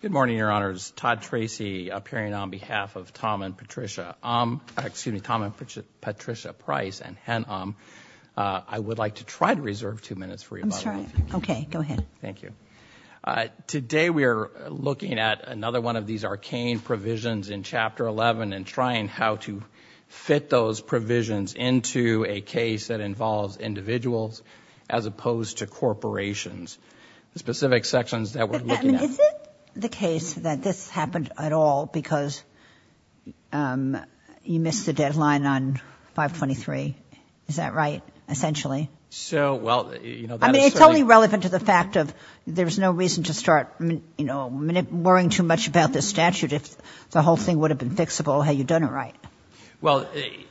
Good morning, Your Honors. Todd Tracy appearing on behalf of Tom and Patricia, excuse me, Tom and Patricia Price and HEN-OM. I would like to try to reserve two minutes for you. I'm sorry. Okay, go ahead. Thank you. Today we are looking at another one of these arcane provisions in Chapter 11 and trying how to fit those provisions into a case that involves individuals as opposed to corporations, the specific sections that we're looking at. And is it the case that this happened at all because, um, you missed the deadline on 523? Is that right, essentially? So, well, you know, that is certainly. I mean, it's only relevant to the fact of there's no reason to start, you know, worrying too much about this statute if the whole thing would have been fixable had you done it right. Well,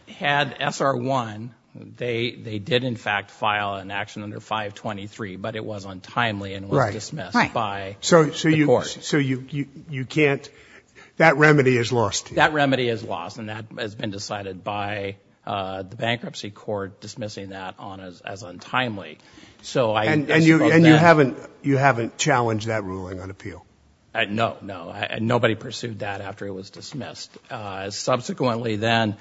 had SR1, they did in fact file an action under 523, but it was untimely and was dismissed by the court. So you can't, that remedy is lost. That remedy is lost and that has been decided by the bankruptcy court dismissing that as untimely. And you haven't challenged that ruling on appeal? No, no. Nobody pursued that after it was dismissed. Subsequently then,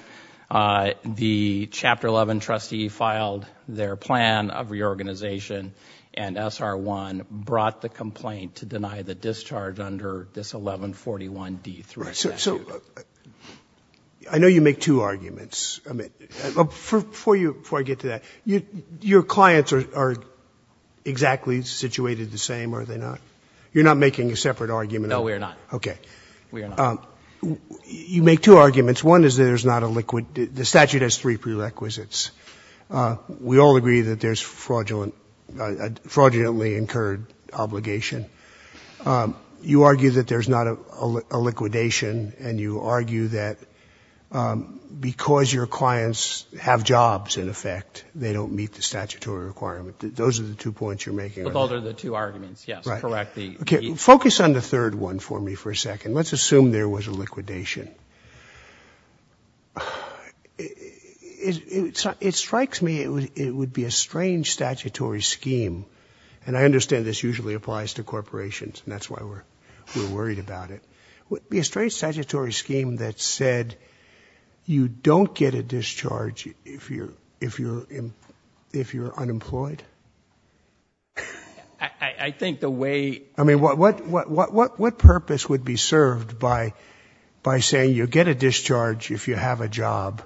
the Chapter 11 trustee filed their plan of reorganization and SR1 brought the complaint to deny the discharge under this 1141D3 statute. So, I know you make two arguments. I mean, before you, before I get to that, your clients are exactly situated the same, are they not? You're not making a separate argument? No, we are not. Okay. We are not. You make two arguments. The statute has three prerequisites. We all agree that there's fraudulently incurred obligation. You argue that there's not a liquidation and you argue that because your clients have jobs, in effect, they don't meet the statutory requirement. Those are the two points you're making. But those are the two arguments, yes. Correct. Okay. Focus on the next one. It strikes me it would be a strange statutory scheme. And I understand this usually applies to corporations and that's why we're worried about it. Would it be a strange statutory scheme that said you don't get a discharge if you're unemployed? I think the way... I mean, what purpose would be served by saying you get a discharge if you have a job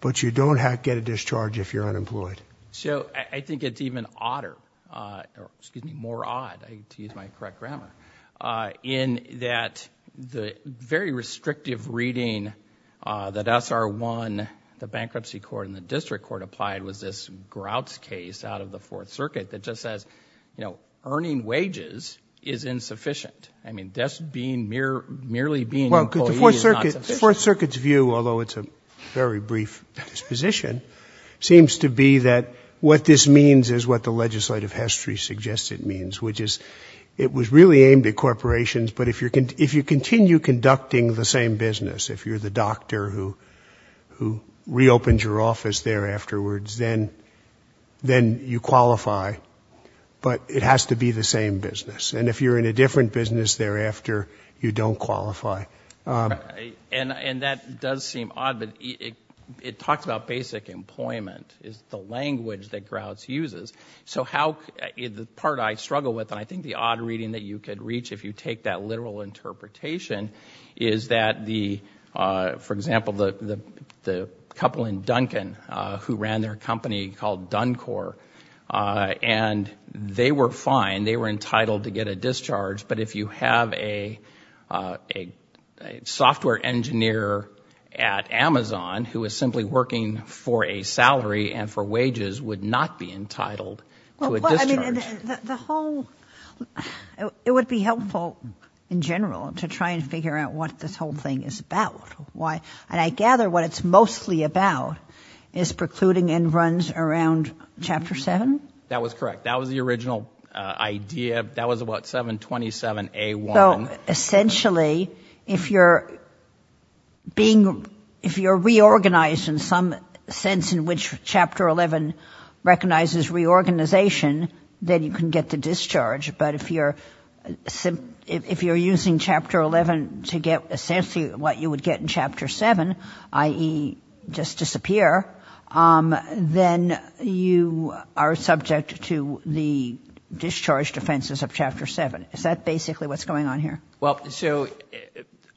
but you don't get a discharge if you're unemployed? So, I think it's even odder, excuse me, more odd, I hate to use my correct grammar, in that the very restrictive reading that SR1, the bankruptcy court and the district court applied was this Grouts case out of the Fourth Circuit that just you know, earning wages is insufficient. I mean, just being merely being an employee is not sufficient. The Fourth Circuit's view, although it's a very brief disposition, seems to be that what this means is what the legislative history suggests it means, which is it was really aimed at corporations, but if you continue conducting the same business, if you're the doctor who reopens your office there afterwards, then you qualify, but it has to be the same business. And if you're in a different business thereafter, you don't qualify. And that does seem odd, but it talks about basic employment is the language that Grouts uses. So, the part I struggle with, and I think the odd reading that you could reach if you take that couple in Duncan, who ran their company called Duncor, and they were fine, they were entitled to get a discharge, but if you have a software engineer at Amazon who is simply working for a salary and for wages would not be entitled to a discharge. Well, I mean, the whole, it would be helpful in general to try and figure out what this whole is about. And I gather what it's mostly about is precluding and runs around Chapter 7? That was correct. That was the original idea. That was about 727A1. So, essentially, if you're reorganized in some sense in which Chapter 11 recognizes reorganization, then you can get the discharge. But if you're using Chapter 11 to get essentially what you would get in Chapter 7, i.e. just disappear, then you are subject to the discharge defenses of Chapter 7. Is that basically what's going on here? Well, so,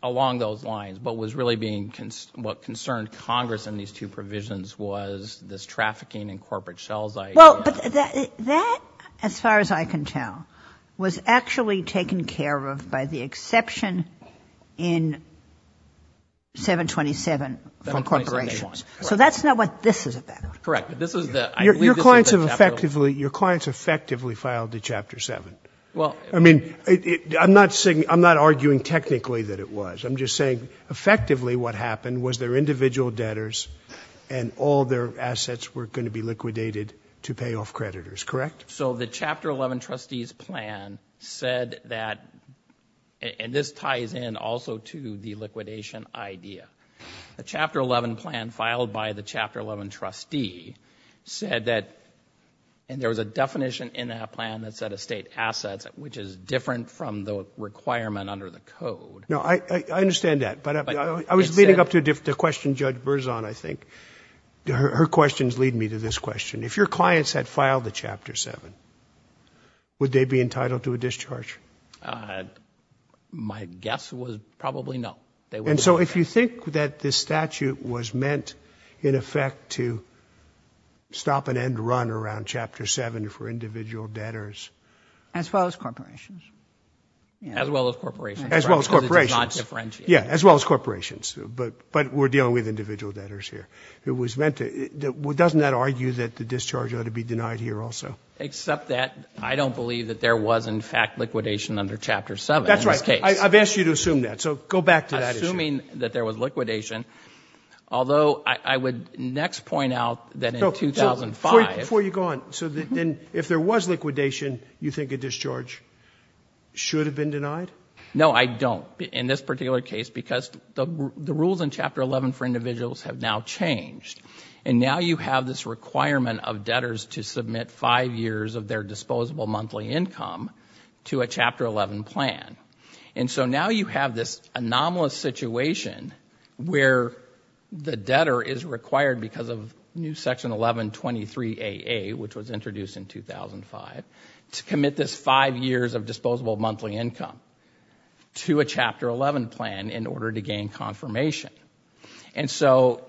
along those lines, what was really being, what concerned Congress in these two provisions was this trafficking and corporate shell site. Well, but that, as far as I can tell, was actually taken care of by the exception in 727 from corporations. So, that's not what this is about. Correct. But this is the, I believe this is the Chapter 11. Your clients effectively filed to Chapter 7. I mean, I'm not saying, I'm not arguing technically that it was. I'm just saying effectively what happened was their individual debtors and all their assets were going to be liquidated to pay off creditors, correct? So, the Chapter 11 trustee's plan said that, and this ties in also to the liquidation idea, the Chapter 11 plan filed by the Chapter 11 trustee said that, and there was a definition in that plan that said estate assets, which is different from the requirement under the code. No, I understand that, but I was leading up to a question Judge Berzon, I think. Her questions lead me to this question. If your clients had filed to Chapter 7, would they be entitled to a discharge? My guess was probably no. And so, if you think that this statute was meant, in effect, to stop an end run around Chapter 7 for individual debtors. As well as corporations. As well as corporations. As well as corporations. Because it does not differentiate. Yeah, as well as corporations, but we're dealing with individual debtors here. Doesn't that argue that the discharge ought to be denied here also? Except that I don't believe that there was, in fact, liquidation under Chapter 7 in this case. That's right. I've asked you to assume that. So, go back to that issue. I'm assuming that there was liquidation, although I would next point out that in 2005... Before you go on, so then if there was liquidation, you think a discharge should have been denied? No, I don't, in this particular case. Because the rules in Chapter 11 for individuals have now changed. And now you have this requirement of debtors to submit five years of their disposable monthly income to a Chapter 11 plan. And so, now you have this anomalous situation where the debtor is required because of new Section 1123AA, which was introduced in 2005, to commit this five years of disposable monthly income to a Chapter 11 plan in order to gain confirmation. And so,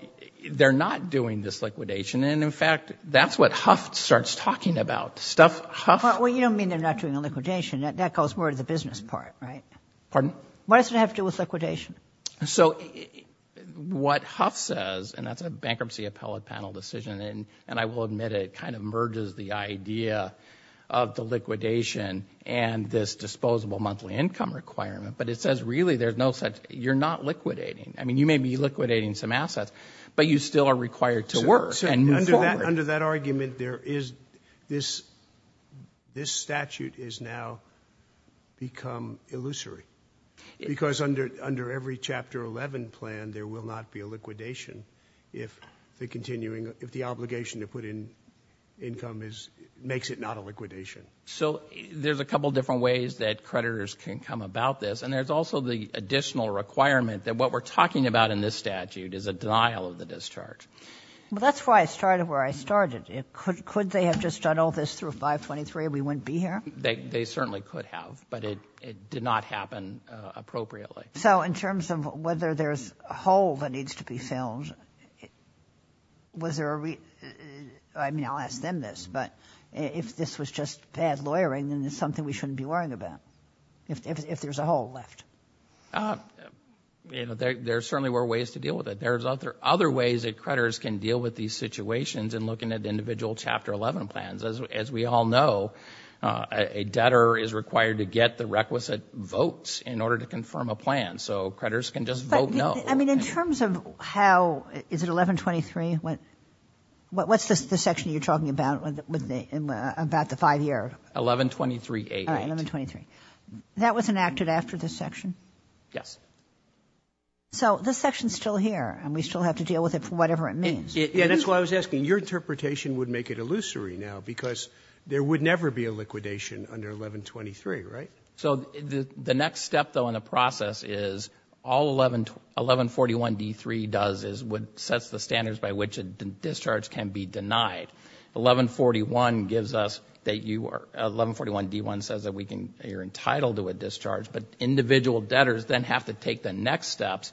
they're not doing this liquidation. And in fact, that's what Huff starts talking about. Well, you don't mean they're not doing the liquidation. That goes more to the business part, right? Pardon? What does it have to do with liquidation? So, what Huff says, and that's a bankruptcy appellate panel decision, and I will admit it kind of merges the idea of the liquidation and this disposable monthly income requirement. But it says, really, you're not liquidating. I mean, you may be liquidating some assets, but you still are required to work and move forward. Under that argument, this statute has now become illusory. Because under every Chapter 11 plan, there will not be a liquidation if the continuing, if the obligation to put in income is, makes it not a liquidation. So, there's a couple different ways that creditors can come about this. And there's also the additional requirement that what we're talking about in this statute is a denial of the discharge. Well, that's why I started where I started. Could they have just done all this through 523 and we wouldn't be here? They certainly could have, but it did not happen appropriately. So, in terms of whether there's a hole that needs to be filled, was there a, I mean, I'll ask them this, but if this was just bad lawyering, then it's something we shouldn't be worrying about, if there's a hole left. There certainly were ways to deal with it. There's other ways that creditors can deal with these situations in looking at individual Chapter 11 plans. As we all know, a debtor is required to get the requisite votes in order to confirm a plan. So, creditors can just vote no. I mean, in terms of how, is it 1123? What's the section you're talking about with the, about the 5-year? 1123-88. 1123. That was enacted after this section? Yes. So, this section's still here and we still have to deal with it for whatever it means. Yeah, that's why I was asking, your interpretation would make it illusory now because there would never be a liquidation under 1123, right? So, the next step, though, in the process is all 1141-D3 does is would, sets the standards by which a discharge can be denied. 1141 gives us that you are, 1141-D1 says that we can, you're entitled to a discharge, but individual debtors then have to take the next steps,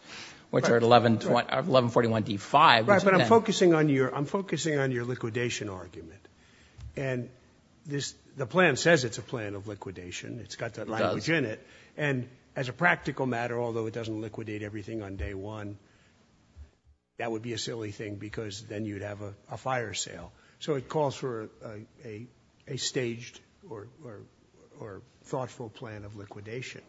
which are 1141-D5. Right, but I'm focusing on your, I'm focusing on your liquidation argument. And this, the plan says it's a plan of liquidation. It's got that language in it. And as a practical matter, although it doesn't liquidate everything on day one, that would be a silly thing because then you'd have a fire sale. So, it calls for a staged or thoughtful plan of liquidation.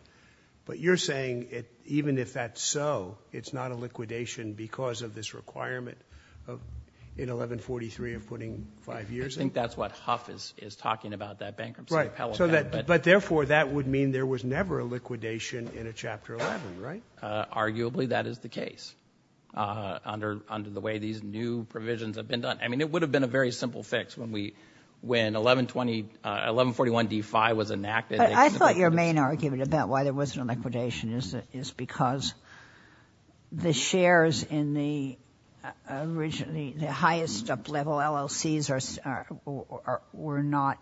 But you're saying it, even if that's so, it's not a liquidation because of this requirement of, in 1143, of putting five years in? I think that's what Huff is talking about, that bankruptcy appellate. But therefore, that would mean there was never a liquidation in a Chapter 11, right? Arguably, that is the case, under the way these new provisions have been done. I mean, it would have been a very simple fix when we, when 1120, 1141-D5 was enacted. I thought your main argument about why there wasn't a liquidation is because the shares in the highest up-level LLCs were not,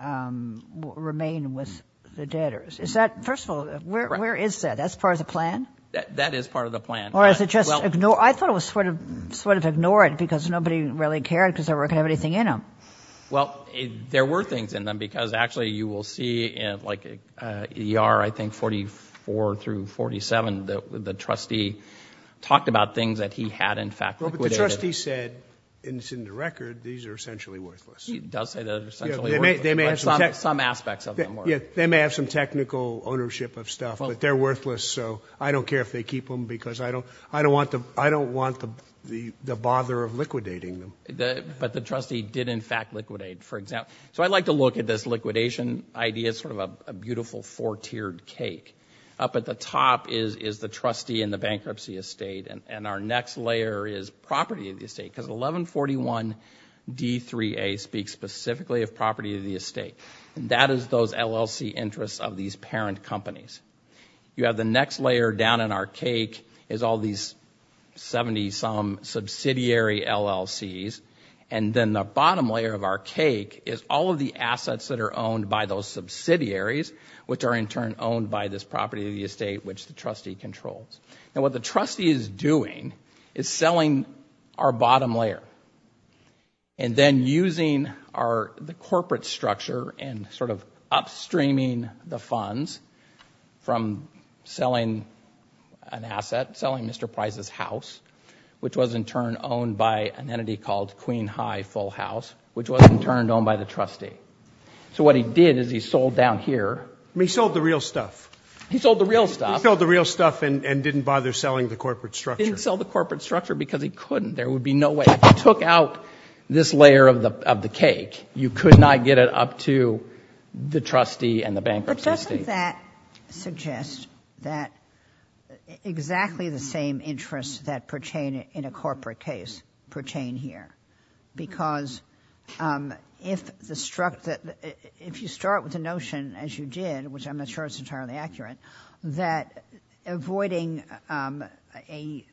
remain with the debtors. Is that, first of all, where is that? That's part of the plan? That is part of the plan. Or is it just ignored? I thought it was sort of ignored because nobody really cared because they weren't going to have anything in them. Well, there were things in them because actually you will see in like ER, I think 44 through 47, the trustee talked about things that he had in fact liquidated. Well, but the trustee said, and it's in the record, these are essentially worthless. He does say that they're essentially worthless, but some aspects of them were. Yeah, they may have some technical ownership of stuff, but they're worthless. So I don't care if they keep them because I don't want the bother of liquidating them. But the trustee did in fact liquidate, for example. So I'd like to look at this liquidation idea as sort of a beautiful four-tiered cake. Up at the top is the trustee and the bankruptcy estate, and our next layer is property of the estate because 1141 D3A speaks specifically of property of the estate. That is those LLC interests of these parent companies. You have the next layer down in our cake is all these 70-some subsidiary LLCs, and then the bottom layer of our cake is all of the assets that are owned by those subsidiaries, which are in turn owned by this property of the estate, which the trustee controls. Now, what the trustee is doing is selling our bottom layer and then using the corporate structure and sort of upstreaming the funds from selling an asset, selling Mr. Price's house, which was in turn owned by an entity called Queen High Full House, which was in turn owned by the trustee. So what he did is he sold down here. He sold the real stuff. He sold the real stuff. He sold the real stuff and didn't bother selling the corporate structure. He didn't sell the corporate structure because he couldn't. There would be no way. If you took out this layer of the cake, you could not get it up to the trustee and the bankruptcy estate. But doesn't that suggest that exactly the same interests that pertain in a corporate case pertain here? Because if you start with the notion, as you did, which I'm not sure it's entirely accurate, that avoiding a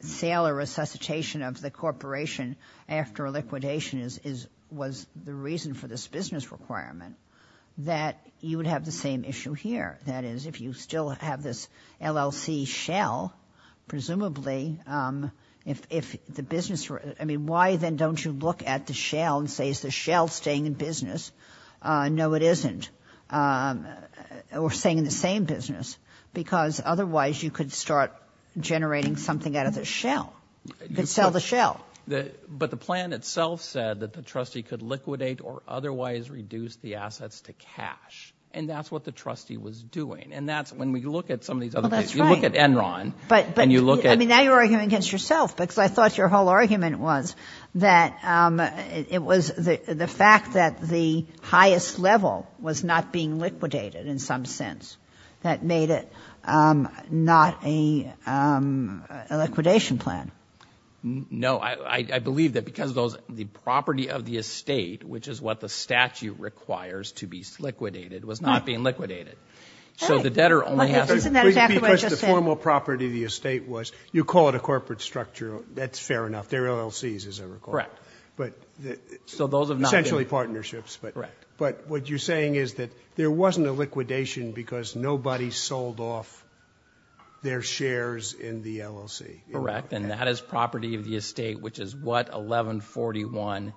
sale or resuscitation of the corporation after liquidation was the reason for this business requirement, that you would have the same issue here. That is, if you still have this LLC shell, presumably, if the business, I mean, why then don't you look at the shell and say, is the shell staying in business? No, it isn't. Or staying in the same business, because otherwise you could start generating something out of the shell. You could sell the shell. But the plan itself said that the trustee could liquidate or otherwise reduce the assets to cash. And that's what the trustee was doing. And that's when we look at some of these other cases, you look at Enron and you look at— But I mean, now you're arguing against yourself, because I thought your whole argument was that it was the fact that the highest level was not being liquidated in some sense that made it not a liquidation plan. No, I believe that because the property of the estate, which is what the statute requires to be liquidated, was not being liquidated. So the debtor only has— But isn't that exactly what you're saying? Because the formal property of the estate was, you call it a corporate structure, that's fair enough. They're LLCs, as I recall. Correct. But— So those have not been— Essentially partnerships, but what you're saying is that there wasn't a liquidation because nobody sold off their shares in the LLC. Correct. And that is property of the estate, which is what 1141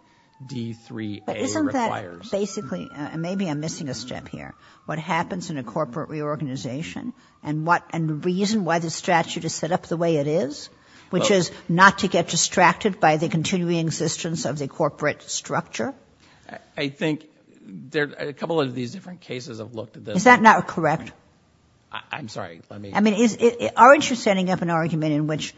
D3A requires. Basically, and maybe I'm missing a step here, what happens in a corporate reorganization and the reason why the statute is set up the way it is, which is not to get distracted by the continuing existence of the corporate structure? I think a couple of these different cases have looked at this— Is that not correct? I'm sorry, let me— I mean, aren't you setting up an argument in which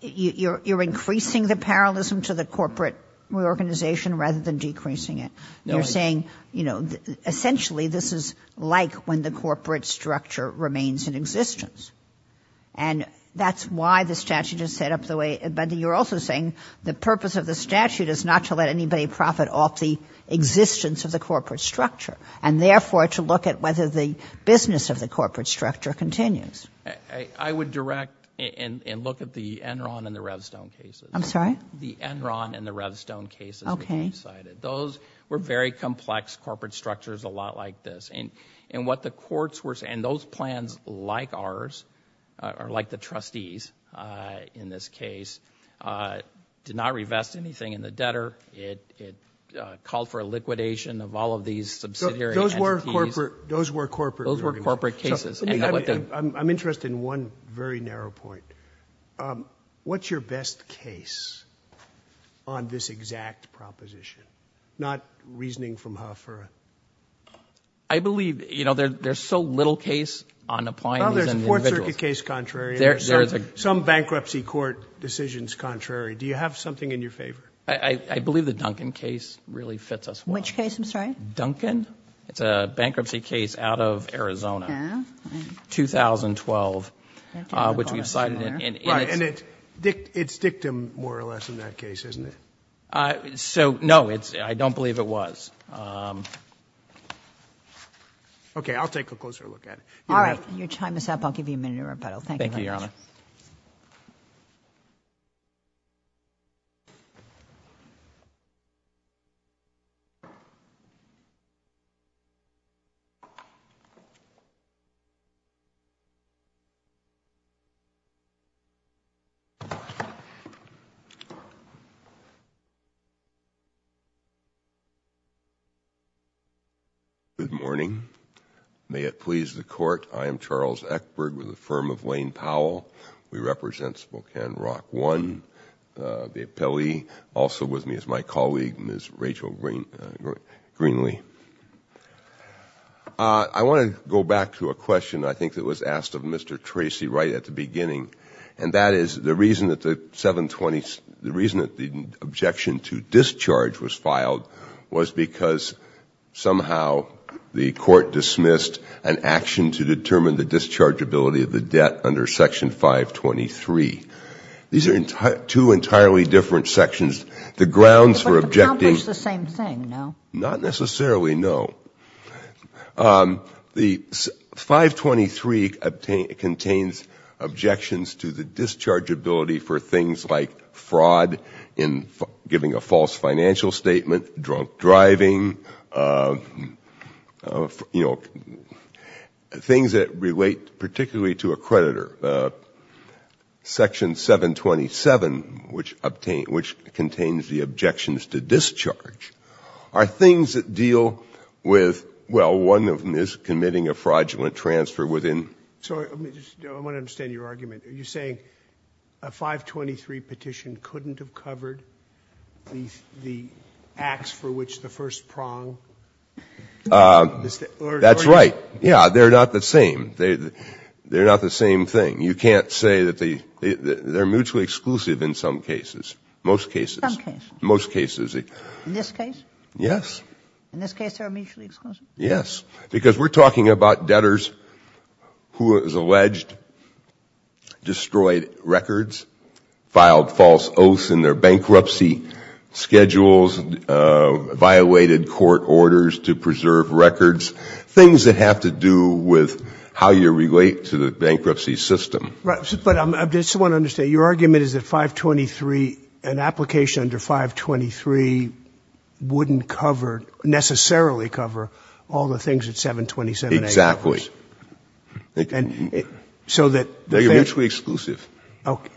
you're increasing the parallelism to the corporate reorganization rather than decreasing it? You're saying essentially this is like when the corporate structure remains in existence. And that's why the statute is set up the way— But you're also saying the purpose of the statute is not to let anybody profit off the existence of the corporate structure and therefore to look at whether the business of the corporate structure continues. I would direct and look at the Enron and the Revstone cases. I'm sorry? The Enron and the Revstone cases that you cited. Those were very complex corporate structures, a lot like this. And what the courts were saying, those plans like ours, or like the trustees in this case, did not revest anything in the debtor. It called for a liquidation of all of these subsidiary entities. Those were corporate— Those were corporate cases. I'm interested in one very narrow point. Um, what's your best case on this exact proposition? Not reasoning from Huff or— I believe, you know, there's so little case on applying these individuals— Well, there's a court circuit case contrary and there's some bankruptcy court decisions contrary. Do you have something in your favor? I believe the Duncan case really fits us well. Which case? I'm sorry? Duncan. It's a bankruptcy case out of Arizona. Yeah. 2012, which we've cited in— Right, and it's dictum, more or less, in that case, isn't it? So, no, it's—I don't believe it was. Okay, I'll take a closer look at it. All right. Your time is up. I'll give you a minute to rebuttal. Thank you very much. Thank you, Your Honor. Good morning. May it please the court, I am Charles Eckberg with the firm of Lane Powell. We represent Spokane Rock One, the appellee. Also with me is my colleague, Ms. Rachel Greenlee. I want to go back to a question, I think, that was asked of Mr. Tracy right at the beginning, and that is the reason that the 720—the reason that the objection to discharge was filed was because somehow the court dismissed an action to determine the dischargeability of the debt under Section 523. These are two entirely different sections. The grounds for objecting— But it's the same thing, no? Not necessarily, no. The 523 contains objections to the dischargeability for things like fraud in giving a false financial statement, drunk driving, you know, things that relate particularly to a creditor. Section 727, which contains the objections to discharge, are things that deal with—well, one of them is committing a fraudulent transfer within— I want to understand your argument. Are you saying a 523 petition couldn't have covered the acts for which the first prong— That's right. Yeah, they're not the same. They're not the same thing. You can't say that they—they're mutually exclusive in some cases, most cases. Some cases. Most cases. In this case? Yes. In this case, they're mutually exclusive? Yes, because we're talking about debtors who is alleged destroyed records, filed false oaths in their bankruptcy schedules, violated court orders to preserve records, things that have to do with how you relate to the bankruptcy system. Right. But I just want to understand, your argument is that 523, an application under 523 wouldn't cover, necessarily cover, all the things that 727— Exactly. So that— They're mutually exclusive.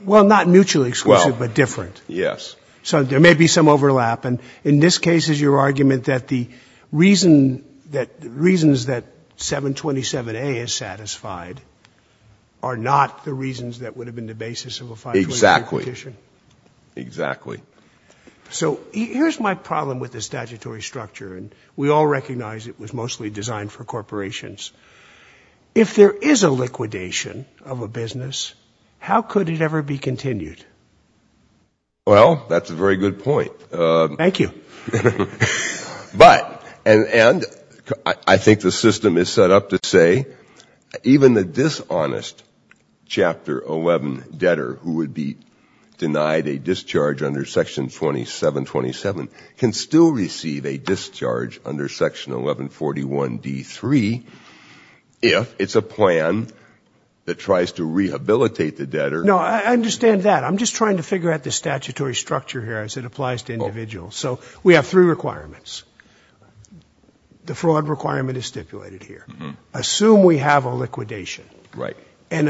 Well, not mutually exclusive, but different. Yes. So there may be some overlap. In this case, is your argument that the reason that—reasons that 727A is satisfied are not the reasons that would have been the basis of a 523 petition? Exactly. Exactly. So here's my problem with the statutory structure, and we all recognize it was mostly designed for corporations. If there is a liquidation of a business, how could it ever be continued? Well, that's a very good point. Thank you. But—and I think the system is set up to say, even the dishonest Chapter 11 debtor who would be denied a discharge under Section 2727 can still receive a discharge under Section 1141d3 if it's a plan that tries to rehabilitate the debtor— No, I understand that. I'm just trying to figure out the statutory structure here as it applies to individuals. So we have three requirements. The fraud requirement is stipulated here. Assume we have a liquidation. Right. And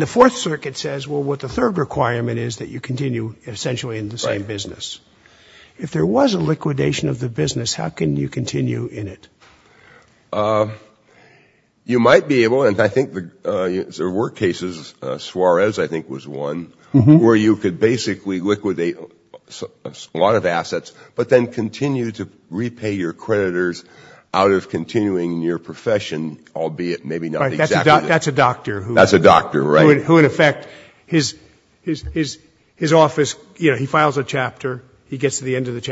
the Fourth Circuit says, well, what the third requirement is that you continue essentially in the same business. If there was a liquidation of the business, how can you continue in it? Well, you might be able—and I think there were cases, Suarez, I think, was one, where you could basically liquidate a lot of assets but then continue to repay your creditors out of continuing in your profession, albeit maybe not exactly— That's a doctor who— That's a doctor, right. Who, in effect, his office, you know, he files a chapter, he gets to the end of the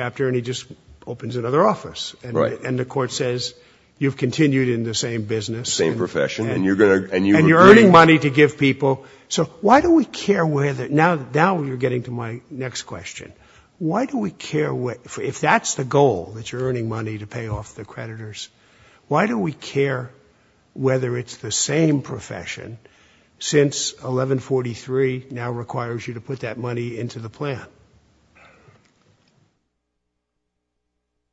You've continued in the same business. Same profession. And you're going to— And you're earning money to give people. So why do we care whether—now you're getting to my next question. Why do we care if that's the goal, that you're earning money to pay off the creditors, why do we care whether it's the same profession since 1143 now requires you to put that money into the plan?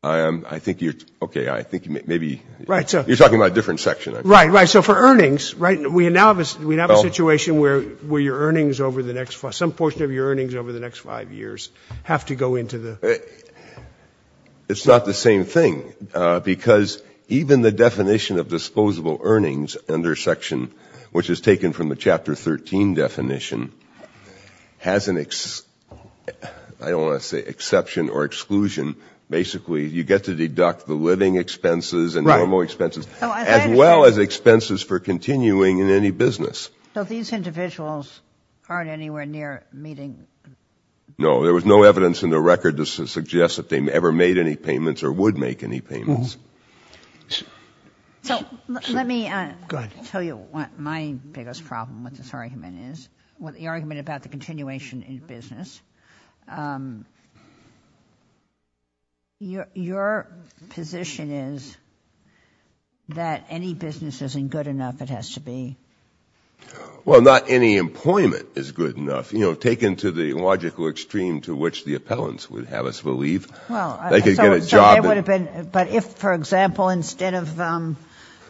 I think you're—okay, I think maybe— Right, so— You're talking about a different section. Right, right. So for earnings, right, we now have a situation where your earnings over the next—some portion of your earnings over the next five years have to go into the— It's not the same thing, because even the definition of disposable earnings under section, I don't want to say exception or exclusion, basically you get to deduct the living expenses and normal expenses, as well as expenses for continuing in any business. So these individuals aren't anywhere near meeting— No, there was no evidence in the record to suggest that they ever made any payments or would make any payments. So let me tell you what my biggest problem with this argument is, with the argument about the continuation in business. Your position is that any business isn't good enough, it has to be. Well, not any employment is good enough, you know, taken to the logical extreme to which the appellants would have us believe. Well— They could get a job— So it would have been—but if, for example, instead of going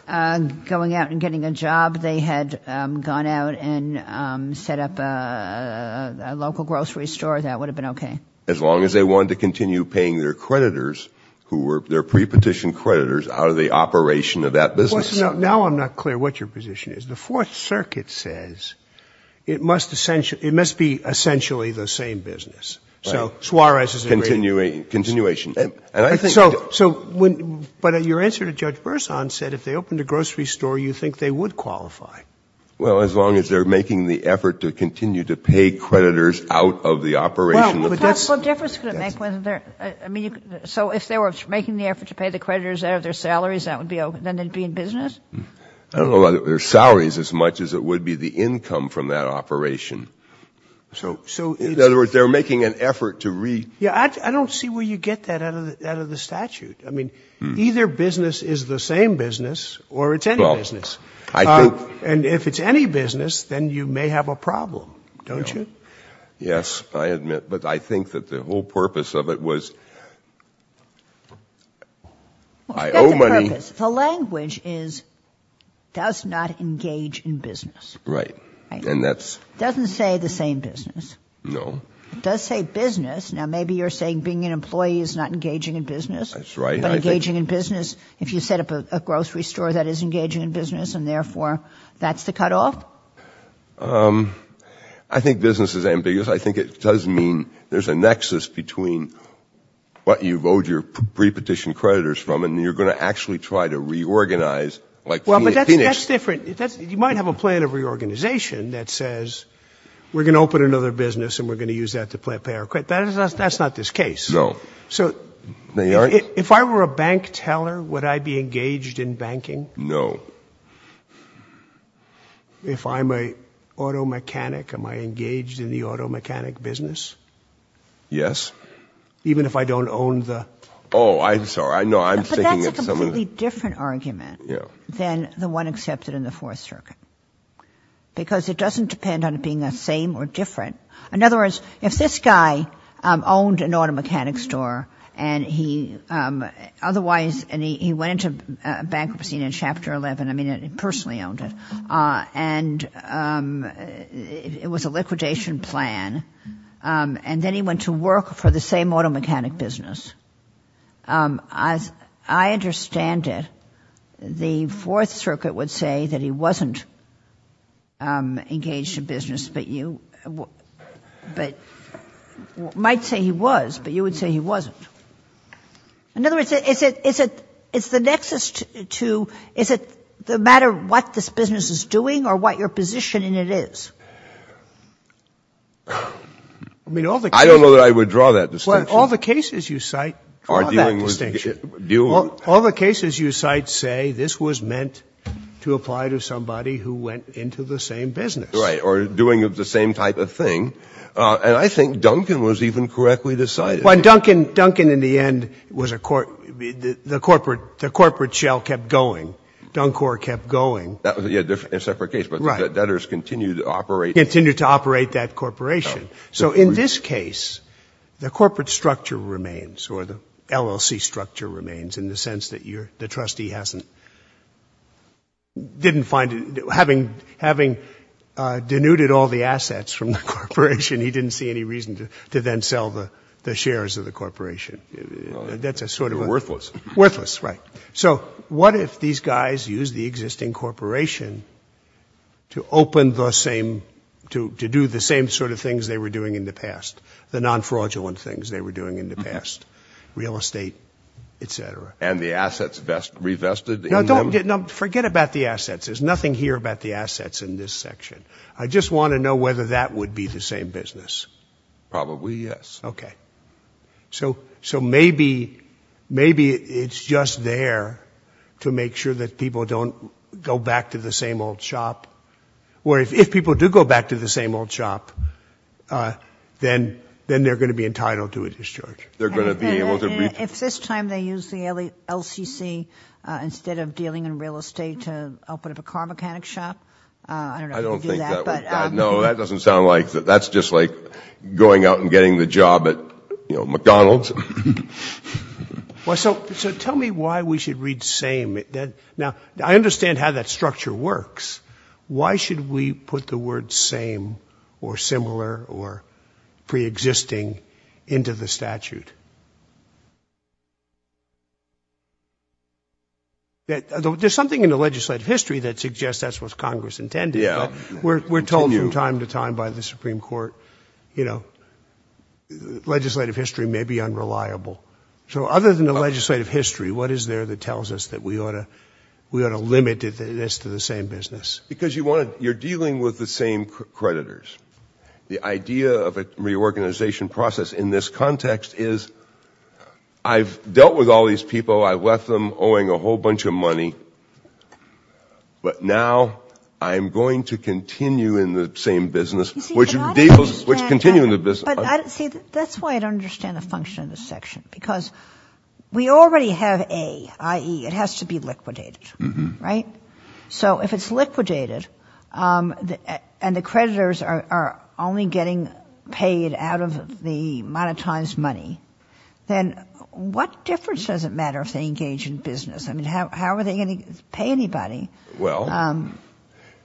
out and getting a job, they had gone out and set up a local grocery store, that would have been okay? As long as they wanted to continue paying their creditors, who were their pre-petition creditors, out of the operation of that business. Now I'm not clear what your position is. The Fourth Circuit says it must be essentially the same business. So Suarez is agreeing— Continuation. But your answer to Judge Berzon said if they opened a grocery store, you think they would qualify? Well, as long as they're making the effort to continue to pay creditors out of the operation— Well, what difference could it make whether they're—I mean, so if they were making the effort to pay the creditors out of their salaries, that would be—then they'd be in business? I don't know about their salaries as much as it would be the income from that operation. So— So— In other words, they're making an effort to re— Yeah, I don't see where you get that out of the statute. I mean, either business is the same business or it's any business. I think— And if it's any business, then you may have a problem, don't you? Yes, I admit. But I think that the whole purpose of it was I owe money— The language is does not engage in business. Right. And that's— Doesn't say the same business. No. It does say business. Now maybe you're saying being an employee is not engaging in business. That's right. But engaging in business, if you set up a grocery store that is engaging in business and therefore that's the cutoff? I think business is ambiguous. I think it does mean there's a nexus between what you've owed your pre-petition creditors from and you're going to actually try to reorganize like— Well, but that's different. You might have a plan of reorganization that says we're going to open another business and we're going to use that to pay our credit. That's not this case. No. So— If I were a bank teller, would I be engaged in banking? No. If I'm an auto mechanic, am I engaged in the auto mechanic business? Yes. Even if I don't own the— Oh, I'm sorry. No, I'm thinking of some of the— But that's a completely different argument than the one accepted in the Fourth Circuit because it doesn't depend on it being the same or different. In other words, if this guy owned an auto mechanic store and he otherwise— and he went into bankruptcy in Chapter 11. I mean, he personally owned it and it was a liquidation plan and then he went to work for the same auto mechanic business. I understand it. The Fourth Circuit would say that he wasn't engaged in business but you might say he was, but you would say he wasn't. In other words, is it the nexus to, is it the matter what this business is doing or what your position in it is? I mean, all the cases— I don't know that I would draw that distinction. All the cases you cite draw that distinction. All the cases you cite say this was meant to apply to somebody who went into the same business. Right. Or doing the same type of thing. And I think Duncan was even correctly decided. Well, Duncan, in the end, the corporate shell kept going. Duncor kept going. That was a separate case, but the debtors continued to operate— Continued to operate that corporation. So in this case, the corporate structure remains or the LLC structure remains in the sense that the trustee hasn't, didn't find, having denuded all the assets from the corporation, he didn't see any reason to then sell the shares of the corporation. That's a sort of— Worthless. Worthless, right. So what if these guys used the existing corporation to open the same, to do the same sort of things they were doing in the past, the non-fraudulent things they were doing in the past, real estate, et cetera? And the assets revested in them? No, don't—no, forget about the assets. There's nothing here about the assets in this section. I just want to know whether that would be the same business. Probably, yes. Okay. So, so maybe, maybe it's just there to make sure that people don't go back to the same old shop, or if people do go back to the same old shop, then, then they're going to be able to— If this time they used the LCC instead of dealing in real estate to open up a car mechanic shop, I don't know if you'd do that, but— I don't think that would—no, that doesn't sound like—that's just like going out and getting the job at, you know, McDonald's. Well, so, so tell me why we should read same. Now, I understand how that structure works. Why should we put the word same, or similar, or pre-existing into the statute? There's something in the legislative history that suggests that's what Congress intended. Yeah. We're told from time to time by the Supreme Court, you know, legislative history may be unreliable. So other than the legislative history, what is there that tells us that we ought to, we Because you want to—you're dealing with the same creditors. The idea of a reorganization process in this context is, I've dealt with all these people, I left them owing a whole bunch of money, but now I'm going to continue in the same business, which deals— You see, but I don't understand— Which continue in the business— But I don't—see, that's why I don't understand the function of this section, because we already have a, i.e., it has to be liquidated, right? So if it's liquidated, and the creditors are only getting paid out of the monetized money, then what difference does it matter if they engage in business? I mean, how are they going to pay anybody? Well,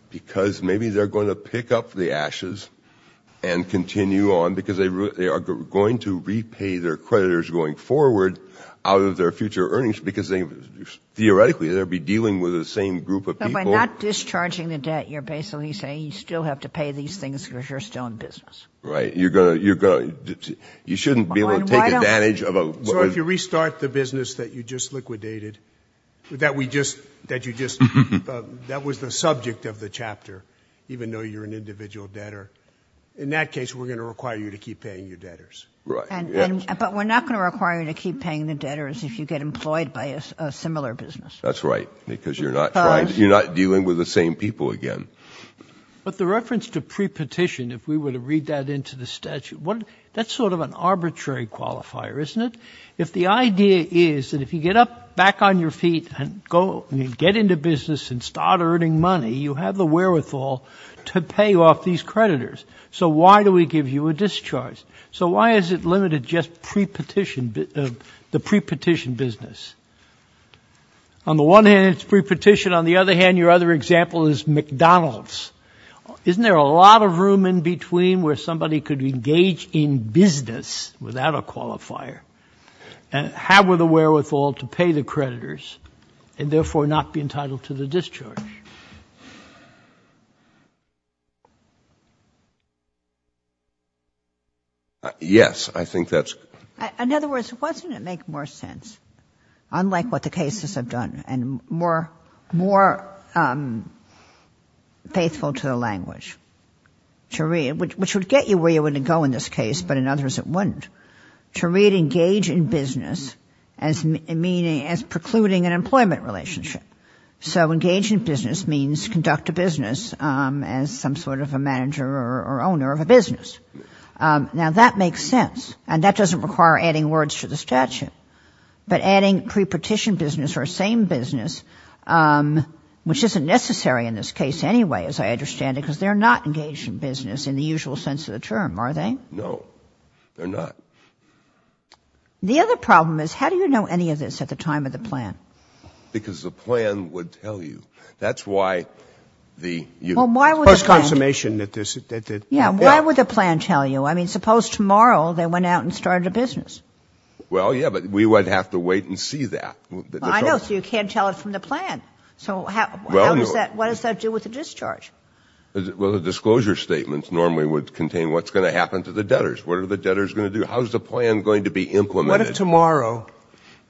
because maybe they're going to pick up the ashes and continue on because they are going to repay their creditors going forward out of their future earnings, because theoretically, they'll be dealing with the same group of people— But by not discharging the debt, you're basically saying you still have to pay these things because you're still in business. Right, you're going to—you shouldn't be able to take advantage of a— So if you restart the business that you just liquidated, that we just—that you just—that was the subject of the chapter, even though you're an individual debtor, in that case, we're going to require you to keep paying your debtors. Right, yes. But we're not going to require you to keep paying the debtors if you get employed by a similar business. That's right, because you're not dealing with the same people again. But the reference to pre-petition, if we were to read that into the statute, that's sort of an arbitrary qualifier, isn't it? If the idea is that if you get up back on your feet and get into business and start earning money, you have the wherewithal to pay off these creditors. So why do we give you a discharge? So why is it limited just pre-petition—the pre-petition business? On the one hand, it's pre-petition. On the other hand, your other example is McDonald's. Isn't there a lot of room in between where somebody could engage in business without a qualifier and have the wherewithal to pay the creditors and therefore not be entitled to the discharge? Yes, I think that's— In other words, wouldn't it make more sense, unlike what the cases have done, and more faithful to the language, which would get you where you would go in this case, but in others it wouldn't, to read engage in business as precluding an employment relationship. So engage in business means conduct a business as some sort of a manager or owner of a business. Now, that makes sense, and that doesn't require adding words to the statute, but adding pre-petition business or same business, which isn't necessary in this case anyway, as I understand it, because they're not engaged in business in the usual sense of the term, are they? No, they're not. The other problem is, how do you know any of this at the time of the plan? Because the plan would tell you. That's why the post-consummation— Why would the plan tell you? I mean, suppose tomorrow they went out and started a business. Well, yeah, but we would have to wait and see that. I know, so you can't tell it from the plan. So what does that do with the discharge? Well, the disclosure statements normally would contain what's going to happen to the debtors. What are the debtors going to do? How is the plan going to be implemented? What if tomorrow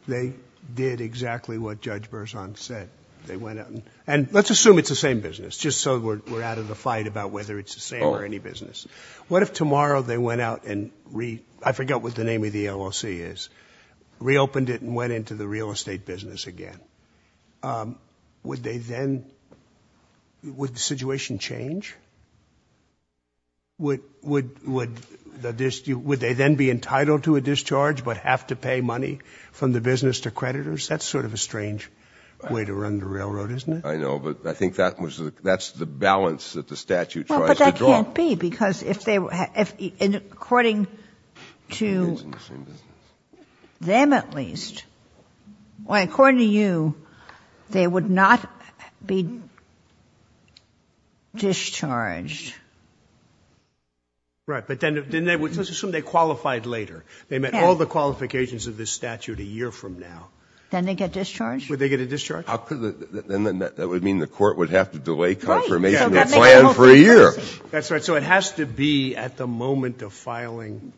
they did exactly what Judge Berzon said? They went out and— Let's assume it's the same business, just so we're out of the fight about whether it's the same or any business. What if tomorrow they went out and—I forget what the name of the LLC is—reopened it and went into the real estate business again? Would they then—would the situation change? Would they then be entitled to a discharge but have to pay money from the business to creditors? That's sort of a strange way to run the railroad, isn't it? I know, but I think that's the balance that the statute tries to give. It can't be, because according to them at least, or according to you, they would not be discharged. Right. But then let's assume they qualified later. They met all the qualifications of this statute a year from now. Then they get discharged? Would they get a discharge? Then that would mean the court would have to delay confirmation of the plan for a year. So it has to be at the moment of filing.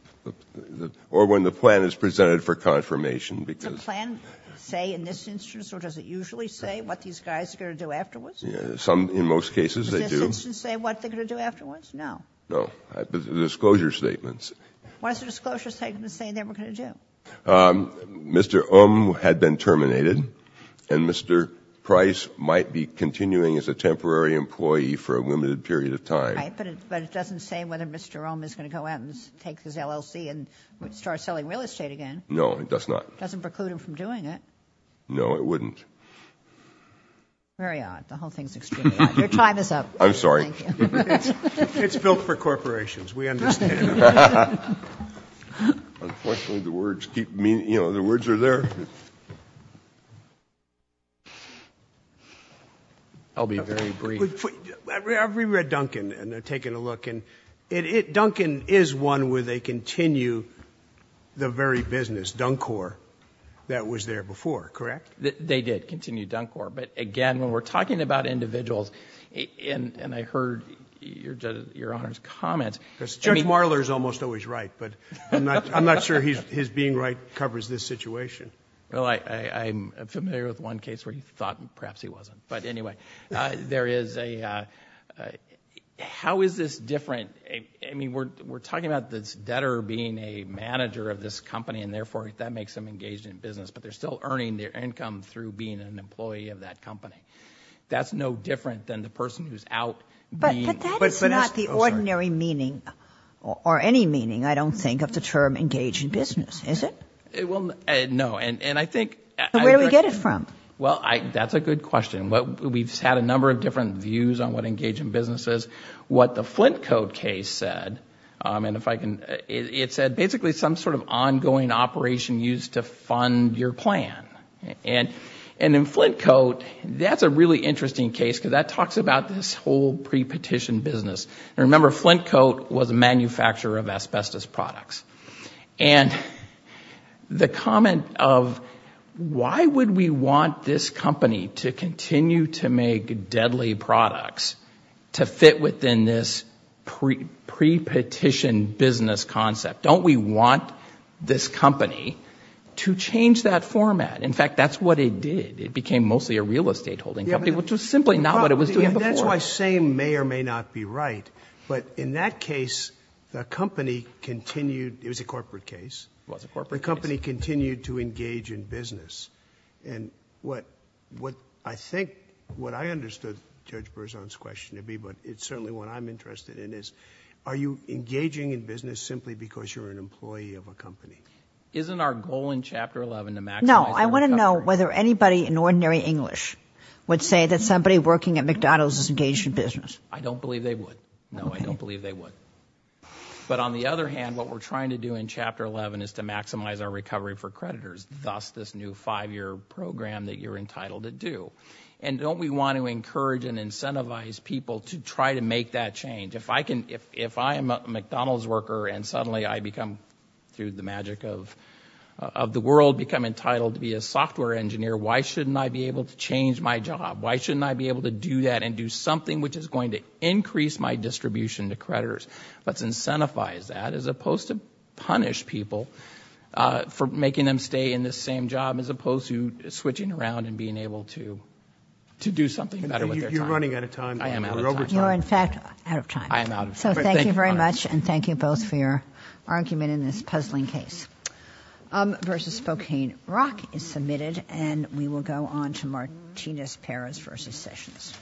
Or when the plan is presented for confirmation. Does the plan say in this instance or does it usually say what these guys are going to do afterwards? Some, in most cases, they do. Does this instance say what they're going to do afterwards? No. No. Disclosure statements. Why is the disclosure statement saying they were going to do? Mr. Umm had been terminated, and Mr. Price might be continuing as a temporary employee for a limited period of time. But it doesn't say whether Mr. Umm is going to go out and take his LLC and start selling real estate again. No, it does not. Doesn't preclude him from doing it. No, it wouldn't. Very odd. The whole thing is extremely odd. Your time is up. I'm sorry. It's built for corporations. We understand. Unfortunately, the words keep meaning, you know, the words are there. I'll be very brief. I've reread Duncan and taken a look, and Duncan is one where they continue the very business, Dunkor, that was there before, correct? They did continue Dunkor. But again, when we're talking about individuals, and I heard your Honor's comments. Because Judge Marler is almost always right. But I'm not sure his being right covers this situation. Well, I'm familiar with one case where he thought perhaps he wasn't. But anyway, there is a, how is this different? I mean, we're talking about this debtor being a manager of this company. And therefore, that makes them engaged in business. But they're still earning their income through being an employee of that company. That's no different than the person who's out. But that is not the ordinary meaning or any meaning, I don't think, of the term engaged in business, is it? It will, no. And I think. Where do we get it from? Well, that's a good question. We've had a number of different views on what engaged in business is. What the Flintcoat case said, and if I can. It said basically some sort of ongoing operation used to fund your plan. And in Flintcoat, that's a really interesting case. Because that talks about this whole pre-petition business. And remember, Flintcoat was a manufacturer of asbestos products. And the comment of why would we want this company to continue to make deadly products to fit within this pre-petition business concept? Don't we want this company to change that format? In fact, that's what it did. It became mostly a real estate holding company, which was simply not what it was doing before. That's why saying may or may not be right. But in that case, the company continued. It was a corporate case. It was a corporate case. The company continued to engage in business. And what I think, what I understood Judge Berzon's question to be, but it's certainly what I'm interested in is, are you engaging in business simply because you're an employee of a company? Isn't our goal in Chapter 11 to maximize. No, I want to know whether anybody in ordinary English would say that somebody working at McDonald's is engaged in business. I don't believe they would. I don't believe they would. But on the other hand, what we're trying to do in Chapter 11 is to maximize our recovery for creditors. Thus, this new five-year program that you're entitled to do. And don't we want to encourage and incentivize people to try to make that change? If I can, if I am a McDonald's worker and suddenly I become, through the magic of the world, become entitled to be a software engineer, why shouldn't I be able to change my job? Why shouldn't I be able to do that and do something which is going to increase my distribution to creditors? Let's incentivize that as opposed to punish people for making them stay in the same job as opposed to switching around and being able to do something better with their time. You're running out of time. I am out of time. You are in fact out of time. I am out of time. So thank you very much and thank you both for your argument in this puzzling case. Versus Spokane Rock is submitted and we will go on to Martinez-Perez versus Sessions.